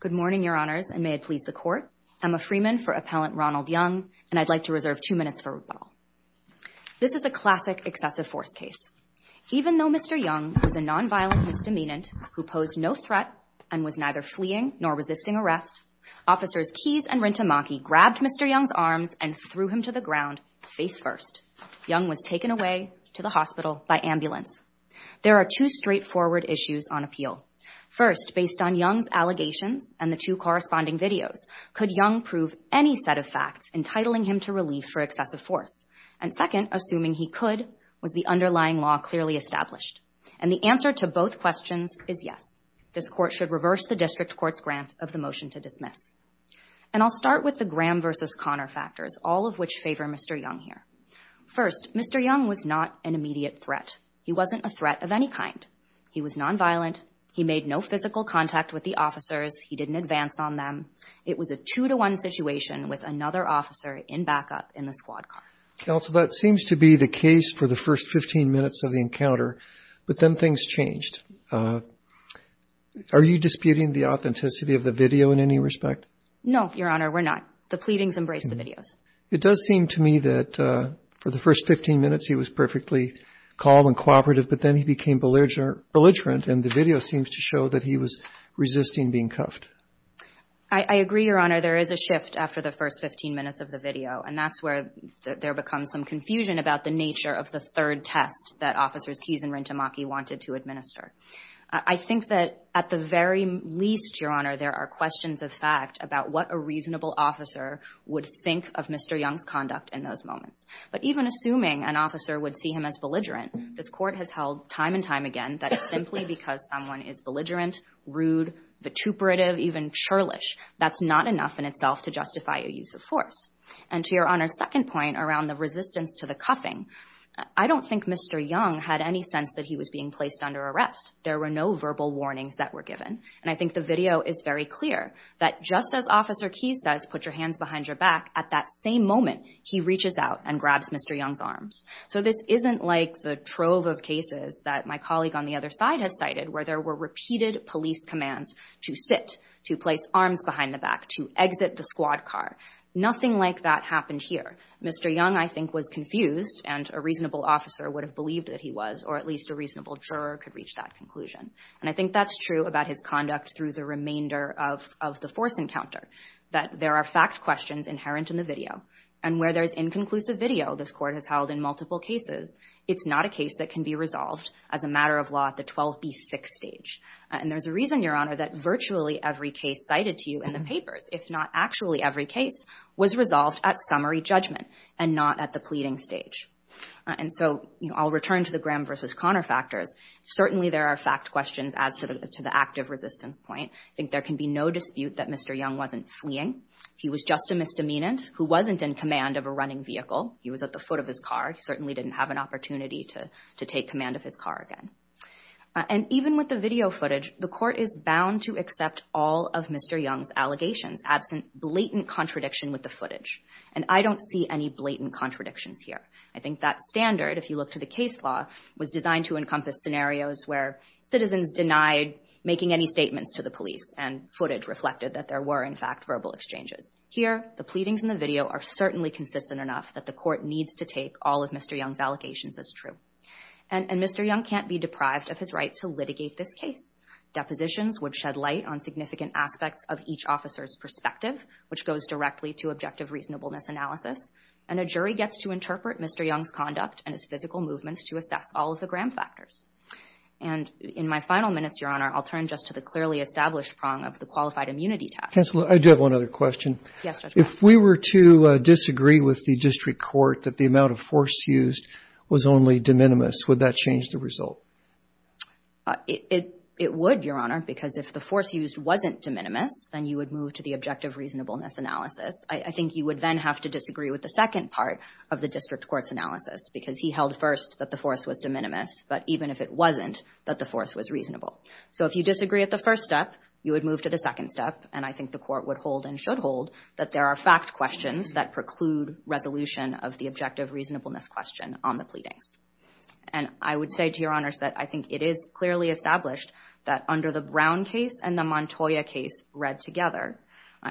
Good morning, Your Honors, and may it please the Court. I'm a Freeman for Appellant Ronald Young, and I'd like to reserve two minutes for rebuttal. This is a classic excessive force case. Even though Mr. Young was a non-violent misdemeanant who posed no threat and was neither fleeing nor resisting arrest, Officers Keyes and Rintemaki grabbed Mr. Young's Young was taken away to the hospital by ambulance. There are two straightforward issues on appeal. First, based on Young's allegations and the two corresponding videos, could Young prove any set of facts entitling him to relief for excessive force? And second, assuming he could, was the underlying law clearly established? And the answer to both questions is yes. This Court should reverse the District Court's grant of the motion to dismiss. And I'll start with the Graham v. Conner factors, all of which favor Mr. Young here. First, Mr. Young was not an immediate threat. He wasn't a threat of any kind. He was non-violent. He made no physical contact with the officers. He didn't advance on them. It was a two-to-one situation with another officer in backup in the squad car. Counsel, that seems to be the case for the first 15 minutes of the encounter, but then things changed. Are you disputing the authenticity of the video in any respect? No, Your Honor, we're not. The pleadings embrace the videos. It does seem to me that for the first 15 minutes, he was perfectly calm and cooperative, but then he became belligerent, and the video seems to show that he was resisting being cuffed. I agree, Your Honor. There is a shift after the first 15 minutes of the video, and that's where there becomes some confusion about the nature of the third test that Officers Keyes and Rintemaki wanted to administer. I think that at the very least, Your Honor, there are questions of fact about what a reasonable officer would think of Mr. Young's conduct in those moments. But even assuming an officer would see him as belligerent, this Court has held time and time again that simply because someone is belligerent, rude, vituperative, even churlish, that's not enough in itself to justify a use of force. And to Your Honor's second point around the resistance to the cuffing, I don't think Mr. Young had any sense that he was being placed under arrest. There were no verbal warnings that were given, and I think the video is very clear that just as Officer Keyes says, put your hands behind your back, at that same moment, he reaches out and grabs Mr. Young's arms. So this isn't like the trove of cases that my colleague on the other side has cited where there were repeated police commands to sit, to place arms behind the back, to exit the squad car. Nothing like that happened here. Mr. Young, I think, was confused, and a reasonable officer would have believed that he was, or at least a reasonable juror could have reached that conclusion. And I think that's true about his conduct through the remainder of the force encounter, that there are fact questions inherent in the video. And where there's inconclusive video, this Court has held in multiple cases, it's not a case that can be resolved as a matter of law at the 12B6 stage. And there's a reason, Your Honor, that virtually every case cited to you in the papers, if not actually every case, was resolved at summary judgment and not at the pleading stage. And so I'll return to the Graham v. Connor factors. Certainly there are fact questions as to the active resistance point. I think there can be no dispute that Mr. Young wasn't fleeing. He was just a misdemeanant who wasn't in command of a running vehicle. He was at the foot of his car. He certainly didn't have an opportunity to take command of his car again. And even with the video footage, the Court is bound to accept all of Mr. Young's allegations, absent blatant contradiction with the footage. And I don't see any blatant contradictions here. I think that standard, if you look to the case law, was designed to encompass scenarios where citizens denied making any statements to the police and footage reflected that there were, in fact, verbal exchanges. Here, the pleadings in the video are certainly consistent enough that the Court needs to take all of Mr. Young's allegations as true. And Mr. Young can't be deprived of his right to litigate this case. Depositions would shed light on significant aspects of each officer's perspective, which goes directly to objective reasonableness analysis. And a jury gets to interpret Mr. Young's conduct and his physical movements to assess all of the gram factors. And in my final minutes, Your Honor, I'll turn just to the clearly established prong of the qualified immunity test. Counsel, I do have one other question. Yes, Judge. If we were to disagree with the district court that the amount of force used was only de minimis, would that change the result? It would, Your Honor, because if the force used wasn't de minimis, then you would move to the objective reasonableness analysis. I think you would then have to disagree with the second part of the district court's analysis, because he held first that the force was de minimis, but even if it wasn't, that the force was reasonable. So if you disagree at the first step, you would move to the second step. And I think the Court would hold and should hold that there are fact questions that preclude resolution of the objective reasonableness question on the pleadings. And I would say to Your Honors that I think it is clearly established that under the Brown case and the Montoya case read together,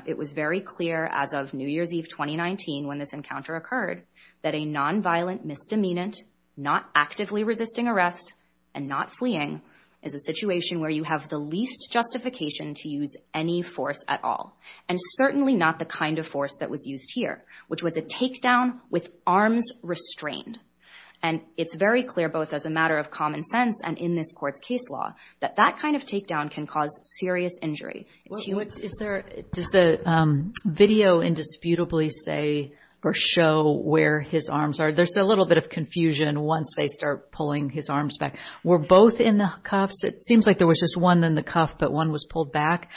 it was very clear as of New Year's Eve 2019 when this encounter occurred that a nonviolent misdemeanant not actively resisting arrest and not fleeing is a situation where you have the least justification to use any force at all, and certainly not the kind of force that was used here, which was a takedown with arms restrained. And it's very clear both as a matter of common sense and in this Court's case law that that kind of takedown can cause serious injury. Is there, does the video indisputably say or show where his arms are? There's a little bit of confusion once they start pulling his arms back. Were both in the cuffs? It seems like there was just one in the cuff, but one was pulled back.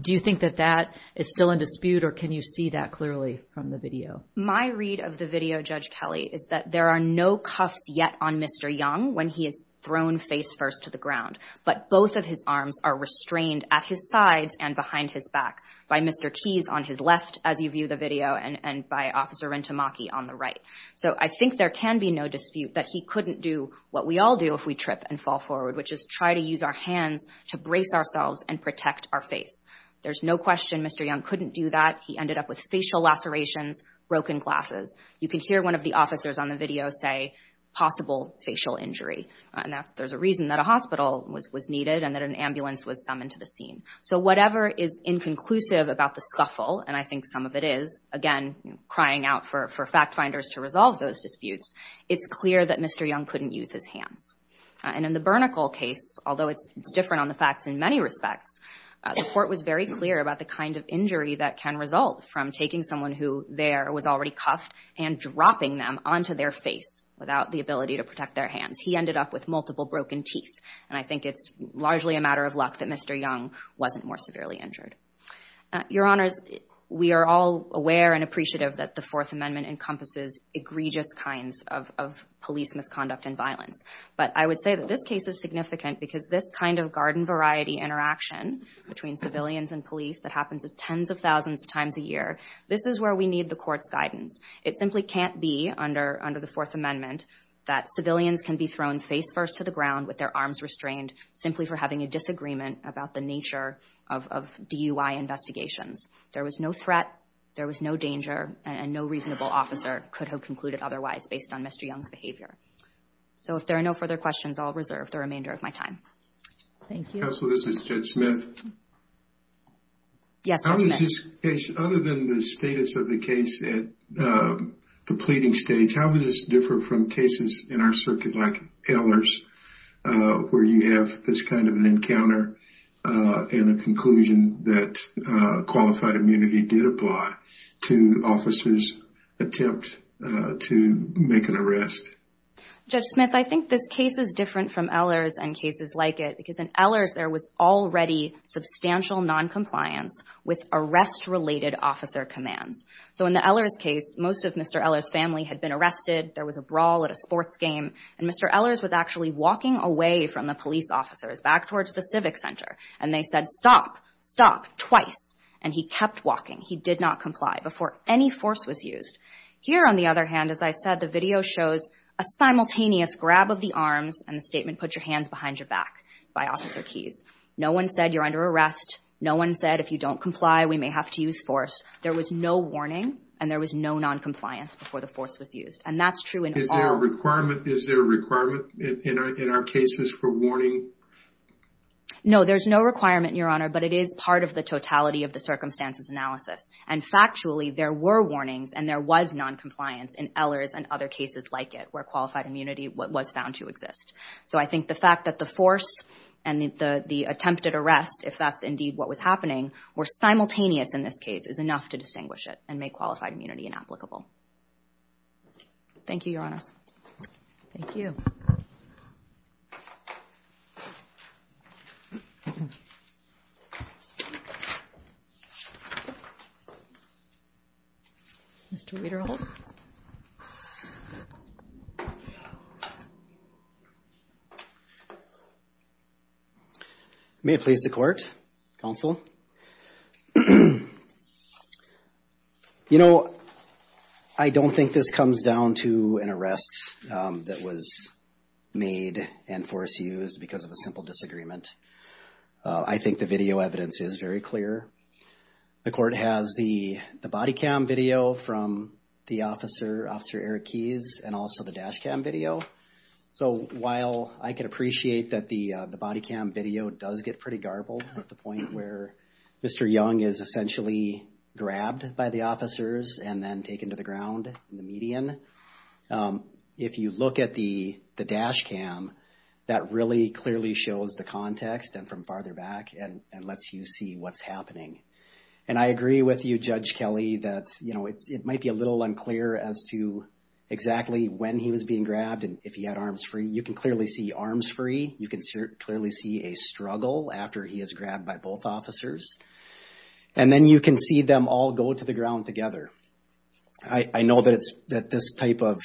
Do you think that that is still in dispute, or can you see that clearly from the video? My read of the video, Judge Kelly, is that there are no cuffs yet on Mr. Young when he is thrown face first to the ground, but both of his arms are restrained at his sides and behind his back by Mr. Keyes on his left, as you view the video, and by Officer Rintamaki on the right. So I think there can be no dispute that he couldn't do what we all do if we trip and fall forward, which is try to use our hands to brace ourselves and protect our face. There's no question Mr. Young couldn't do that. He ended up with facial lacerations, broken glasses. You can hear one of the officers on the video say, possible facial injury, and that there's a reason that a hospital was needed and that an ambulance was summoned to the scene. So whatever is inconclusive about the scuffle, and I think some of it is, again, crying out for fact finders to resolve those disputes, it's clear that Mr. Young couldn't use his hands. And in the Burnicle case, although it's different on the facts in many respects, the court was very clear about the kind of injury that can result from taking someone who there was already cuffed and dropping them onto their face without the ability to protect their hands. He ended up with multiple broken teeth. And I think it's largely a matter of luck that Mr. Young wasn't more severely injured. Your Honors, we are all aware and appreciative that the Fourth Amendment encompasses egregious kinds of police misconduct and violence. But I would say that this case is significant because this kind of garden variety interaction between civilians and police that happens tens of thousands of times a year, this is where we need the court's guidance. It simply can't be under the Fourth Amendment that civilians can be thrown face first to the ground with their arms restrained simply for having a disagreement about the nature of DUI investigations. There was no threat, there was no danger, and no reasonable officer could have concluded otherwise based on Mr. Young's behavior. So if there are no further questions, I'll reserve the remainder of my time. Thank you. Counsel, this is Jed Smith. Yes, Judge Smith. How is this case, other than the status of the case at the pleading stage, how does this differ from cases in our circuit like Ehlers where you have this kind of an encounter and a conclusion that qualified immunity did apply to officers' attempt to make an arrest? Judge Smith, I think this case is different from Ehlers and cases like it because in Ehlers there was already substantial noncompliance with arrest-related officer commands. So in the Ehlers case, most of Mr. Ehlers' family had been arrested, there was a brawl at a sports game, and Mr. Ehlers was actually walking away from the police officers back towards the civic center, and they said, stop, stop, twice, and he kept walking. He did not comply before any force was used. Here, on the other hand, as I said, the video shows a simultaneous grab of the arms and the statement, put your hands behind your back, by Officer Keys. No one said, you're under arrest. No one said, if you don't comply, we may have to use force. There was no warning and there was no noncompliance before the force was used. And that's true in all... Is there a requirement in our cases for warning? No, there's no requirement, Your Honor, but it is part of the totality of the circumstances analysis. And factually, there were warnings and there was noncompliance in Ehlers and other cases like it, where qualified immunity was found to exist. So I think the fact that the force and the attempted arrest, if that's indeed what was happening, were simultaneous in this case is enough to distinguish it and make qualified immunity inapplicable. Thank you, Your Honors. Thank you. Mr. Weiderholt? May it please the Court, Counsel. You know, I don't think this comes down to an arrest that was made and force used because of a simple disagreement. I think the video evidence is very clear. The Court has the body cam video from the officer, Officer Eric Keys, and also the dash cam video. So while I can appreciate that the body cam video does get pretty garbled at the point where Mr. Young is essentially grabbed by the officers and then taken to the ground in the median, if you look at the dash cam, that really clearly shows the context and from farther back and lets you see what's happening. And I agree with you, Judge Kelly, that it might be a little unclear as to exactly when he was being grabbed and if he had arms free. You can clearly see arms free. You can clearly see a struggle after he is grabbed by both officers. And then you can see them all go to the ground together. I know that this type of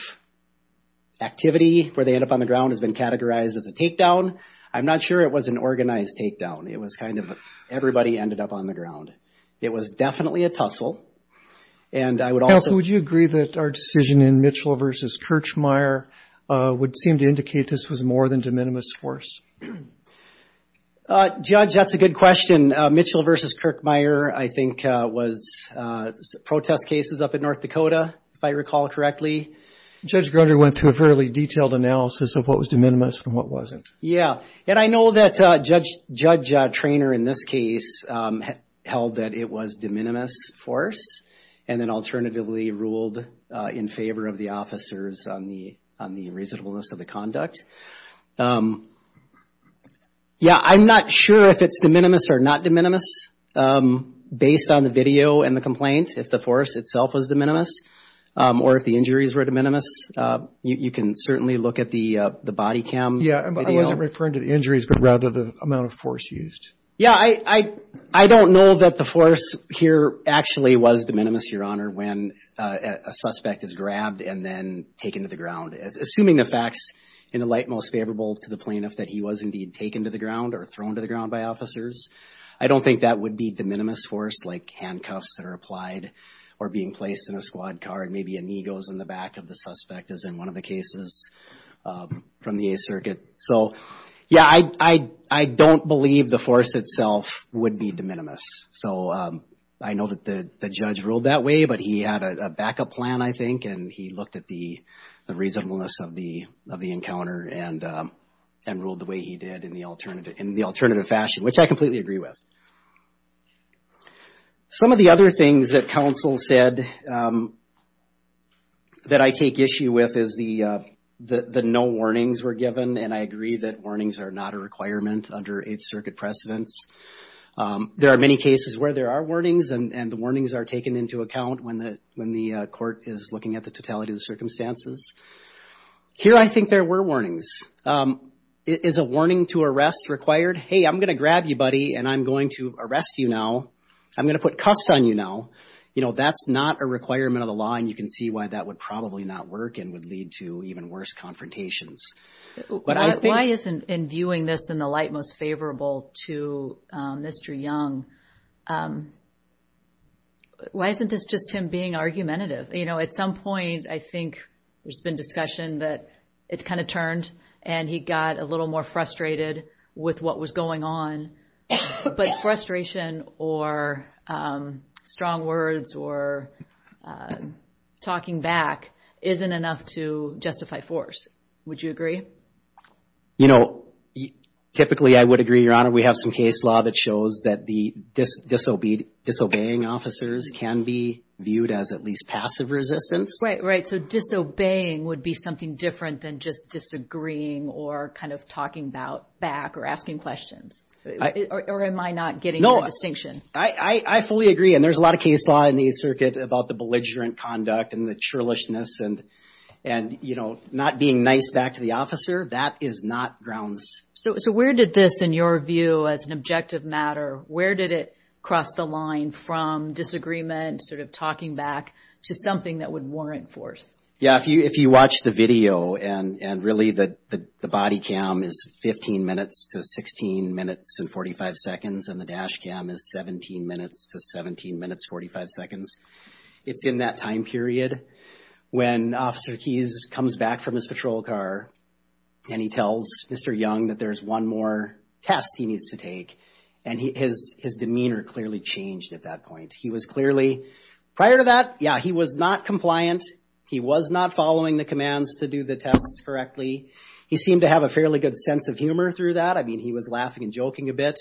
activity where they end up on the ground has been categorized as a takedown. I'm not sure it was an organized takedown. It was kind of everybody ended up on the ground. It was definitely a tussle. And I would also... Counsel, would you agree that our decision in Mitchell v. Kirchmeier would seem to indicate this was more than de minimis force? Judge, that's a good question. Mitchell v. Kirchmeier, I think, was protest cases up in North Dakota, if I recall correctly. Judge Grunder went through a fairly detailed analysis of what was de minimis and what wasn't. Yeah. And I know that Judge Traynor in this case held that it was de minimis force and then alternatively ruled in favor of the officers on the reasonableness of the conduct. Yeah, I'm not sure if it's de minimis or not de minimis based on the video and the complaint, if the force itself was de minimis or if the injuries were de minimis. You can certainly look at the body cam video. Yeah, I wasn't referring to the injuries, but rather the amount of force used. Yeah, I don't know that the force here actually was de minimis, Your Honor, when a suspect is grabbed and then taken to the ground. Assuming the facts in the light most favorable to the plaintiff that he was indeed taken to the ground or thrown to the ground by officers, I don't think that would be de minimis force, like handcuffs that are applied or being placed in a squad car and maybe a knee goes in the back of the suspect, as in one of the cases from the Eighth Circuit. So, yeah, I don't believe the force itself would be de minimis. So I know that the judge ruled that way, but he had a backup plan, I think, and he looked at the reasonableness of the encounter and ruled the way he did in the alternative fashion, which I completely agree with. Some of the other things that counsel said that I take issue with is the no warnings were given, and I agree that warnings are not a requirement under Eighth Circuit precedents. There are many cases where there are warnings, and the warnings are taken into account when the court is looking at the totality of the circumstances. Here, I think there were warnings. Is a warning to arrest required? Hey, I'm going to grab you, buddy, and I'm going to arrest you now. I'm going to put cuffs on you now. That's not a requirement of the law, and you can see why that would probably not work and would lead to even worse confrontations. Why isn't in viewing this in the light most favorable to Mr. Young, why isn't this just him being argumentative? At some point, I think there's been discussion that it kind of turned, and he got a little more frustrated with what was going on, but frustration or strong words or talking back isn't enough to justify force. Would you agree? Typically, I would agree, Your Honor. We have some case law that shows that the disobeying officers can be viewed as at least passive resistance. Right, so disobeying would be something different than just disagreeing or kind of talking back or asking questions, or am I not getting your distinction? I fully agree, and there's a lot of case law in the circuit about the belligerent conduct and the churlishness and not being nice back to the officer. That is not grounds. So where did this, in your view, as an objective matter, where did it cross the line from disagreement, sort of talking back, to something that would warrant force? Yeah, if you watch the video, and really the body cam is 15 minutes to 16 minutes and 45 seconds, and the dash cam is 17 minutes to 17 minutes, 45 seconds, it's in that time and he tells Mr. Young that there's one more test he needs to take, and his demeanor clearly changed at that point. He was clearly, prior to that, yeah, he was not compliant. He was not following the commands to do the tests correctly. He seemed to have a fairly good sense of humor through that. I mean, he was laughing and joking a bit,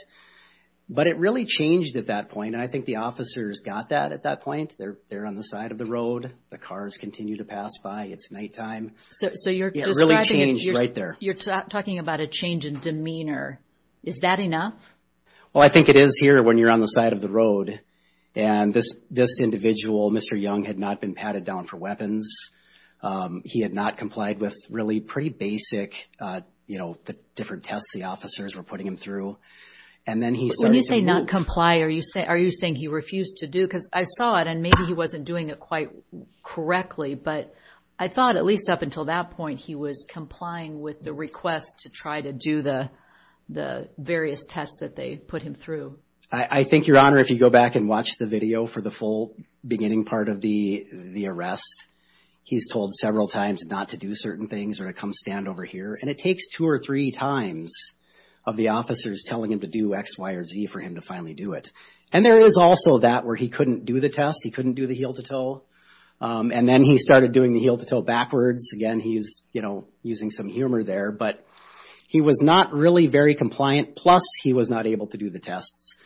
but it really changed at that point, and I think the officers got that at that point. They're on the side of the road. The cars continue to pass by. It's nighttime. So you're describing... Yeah, it really changed right there. You're talking about a change in demeanor. Is that enough? Well, I think it is here when you're on the side of the road, and this individual, Mr. Young, had not been patted down for weapons. He had not complied with really pretty basic, you know, the different tests the officers were putting him through, and then he started to move. When you say not comply, are you saying he refused to do, because I saw it, and maybe he wasn't doing it quite correctly, but I thought, at least up until that point, he was complying with the request to try to do the various tests that they put him through. I think, Your Honor, if you go back and watch the video for the full beginning part of the arrest, he's told several times not to do certain things or to come stand over here, and it takes two or three times of the officers telling him to do X, Y, or Z for him to finally do it, and there is also that where he couldn't do the test, he couldn't do the heel-to-toe, and then he started doing the heel-to-toe backwards. Again, he's, you know, using some humor there, but he was not really very compliant, plus he was not able to do the tests.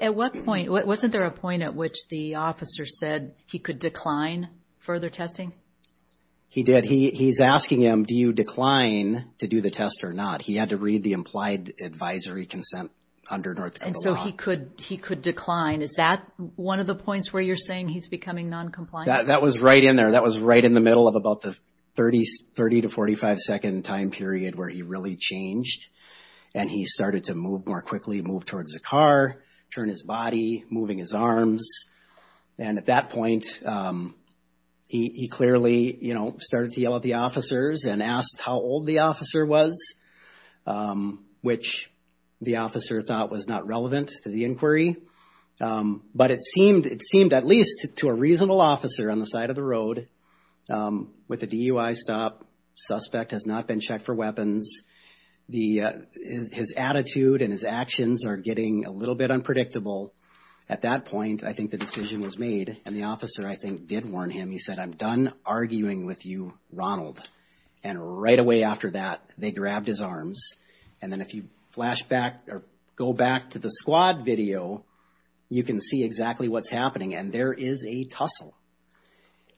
At what point, wasn't there a point at which the officer said he could decline further testing? He did. He's asking him, do you decline to do the test or not? He had to read the test. He could decline. Is that one of the points where you're saying he's becoming noncompliant? That was right in there. That was right in the middle of about the 30 to 45-second time period where he really changed, and he started to move more quickly, move towards the car, turn his body, moving his arms, and at that point, he clearly, you know, started to yell at the officers and asked how old the officer was, which the officer thought was not relevant to the inquiry, but it seemed at least to a reasonable officer on the side of the road with a DUI stop, suspect has not been checked for weapons. His attitude and his actions are getting a little bit unpredictable. At that point, I think the decision was made, and the officer, I think, did warn him. He said, I'm done arguing with you, Ronald, and right away after that, they grabbed his arms, and then if you flashback or go back to the squad video, you can see exactly what's happening, and there is a tussle,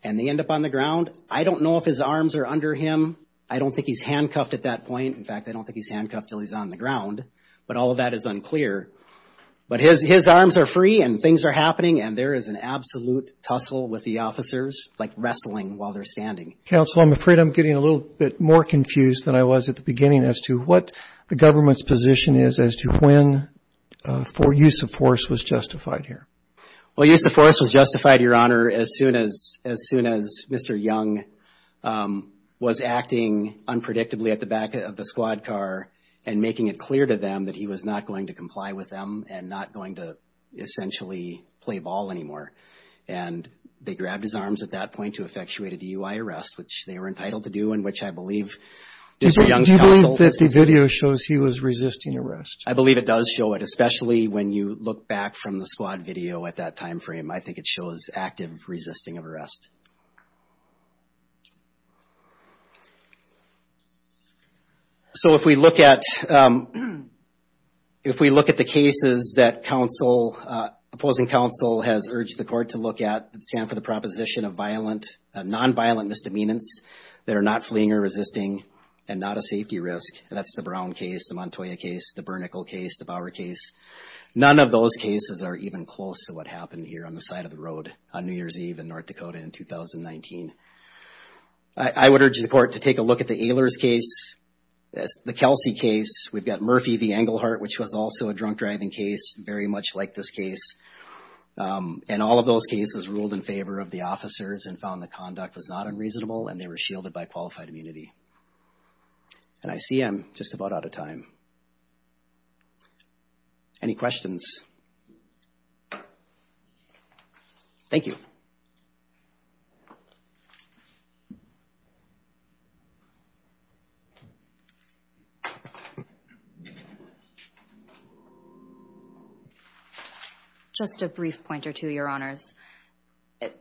and they end up on the ground. I don't know if his arms are under him. I don't think he's handcuffed at that point. In fact, I don't think he's handcuffed until he's on the ground, but all of that is unclear, but his arms are free, and things are happening, and there is an absolute tussle with the officers, like wrestling while they're standing. Counsel, I'm afraid I'm getting a little bit more confused than I was at the beginning as to what the government's position is as to when use of force was justified here. Well, use of force was justified, Your Honor, as soon as Mr. Young was acting unpredictably at the back of the squad car and making it clear to them that he was not going to comply with them and not going to essentially play ball anymore, and they grabbed his arms at that point to effectuate a DUI arrest, which they were entitled to do and which I believe Mr. Young's counsel... Do you believe that the video shows he was resisting arrest? I believe it does show it, especially when you look back from the squad video at that time frame. I think it shows active resisting of arrest. So if we look at the cases that opposing counsel has urged the court to look at, they stand for the proposition of nonviolent misdemeanors that are not fleeing or resisting and not a safety risk. That's the Brown case, the Montoya case, the Bernickel case, the Bower case. None of those cases are even close to what happened here on the side of the road on New Year's Eve in North Dakota in 2019. I would urge the court to take a look at the Ehlers case, the Kelsey case. We've got Murphy v. Englehart, which was also a drunk driving case, very much like this case. And all of those cases ruled in favor of the officers and found the conduct was not unreasonable and they were shielded by qualified immunity. And I see I'm just about out of time. Any questions? Thank you. Just a brief point or two, Your Honors.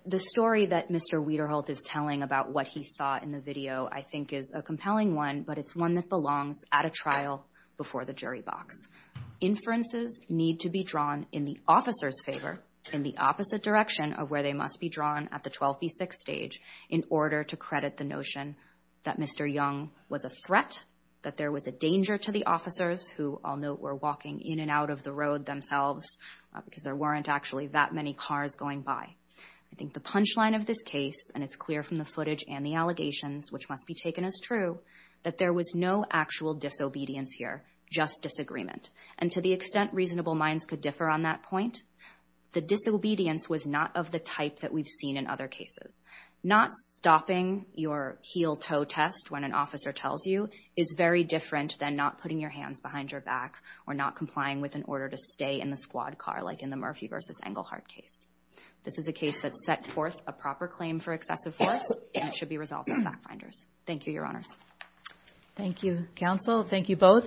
The story that Mr. Wederholt is telling about what he saw in the video, I think, is a compelling one, but it's one that belongs at a trial before the jury box. Inferences need to be drawn in the officer's favor in the opposite direction of where they must be drawn at the 12 v. 6 stage in order to credit the notion that Mr. Young was a threat, that there was a danger to the officers who, I'll note, were walking in and out of the road themselves because there weren't any other options. There weren't actually that many cars going by. I think the punchline of this case, and it's clear from the footage and the allegations, which must be taken as true, that there was no actual disobedience here, just disagreement. And to the extent reasonable minds could differ on that point, the disobedience was not of the type that we've seen in other cases. Not stopping your heel-toe test when an officer tells you is very different than not putting your hands behind your back or not complying with an order to stay in the squad car like in the Murphy v. Englehart case. This is a case that set forth a proper claim for excessive force and it should be resolved by fact finders. Thank you, Your Honors. Thank you, counsel. Thank you both.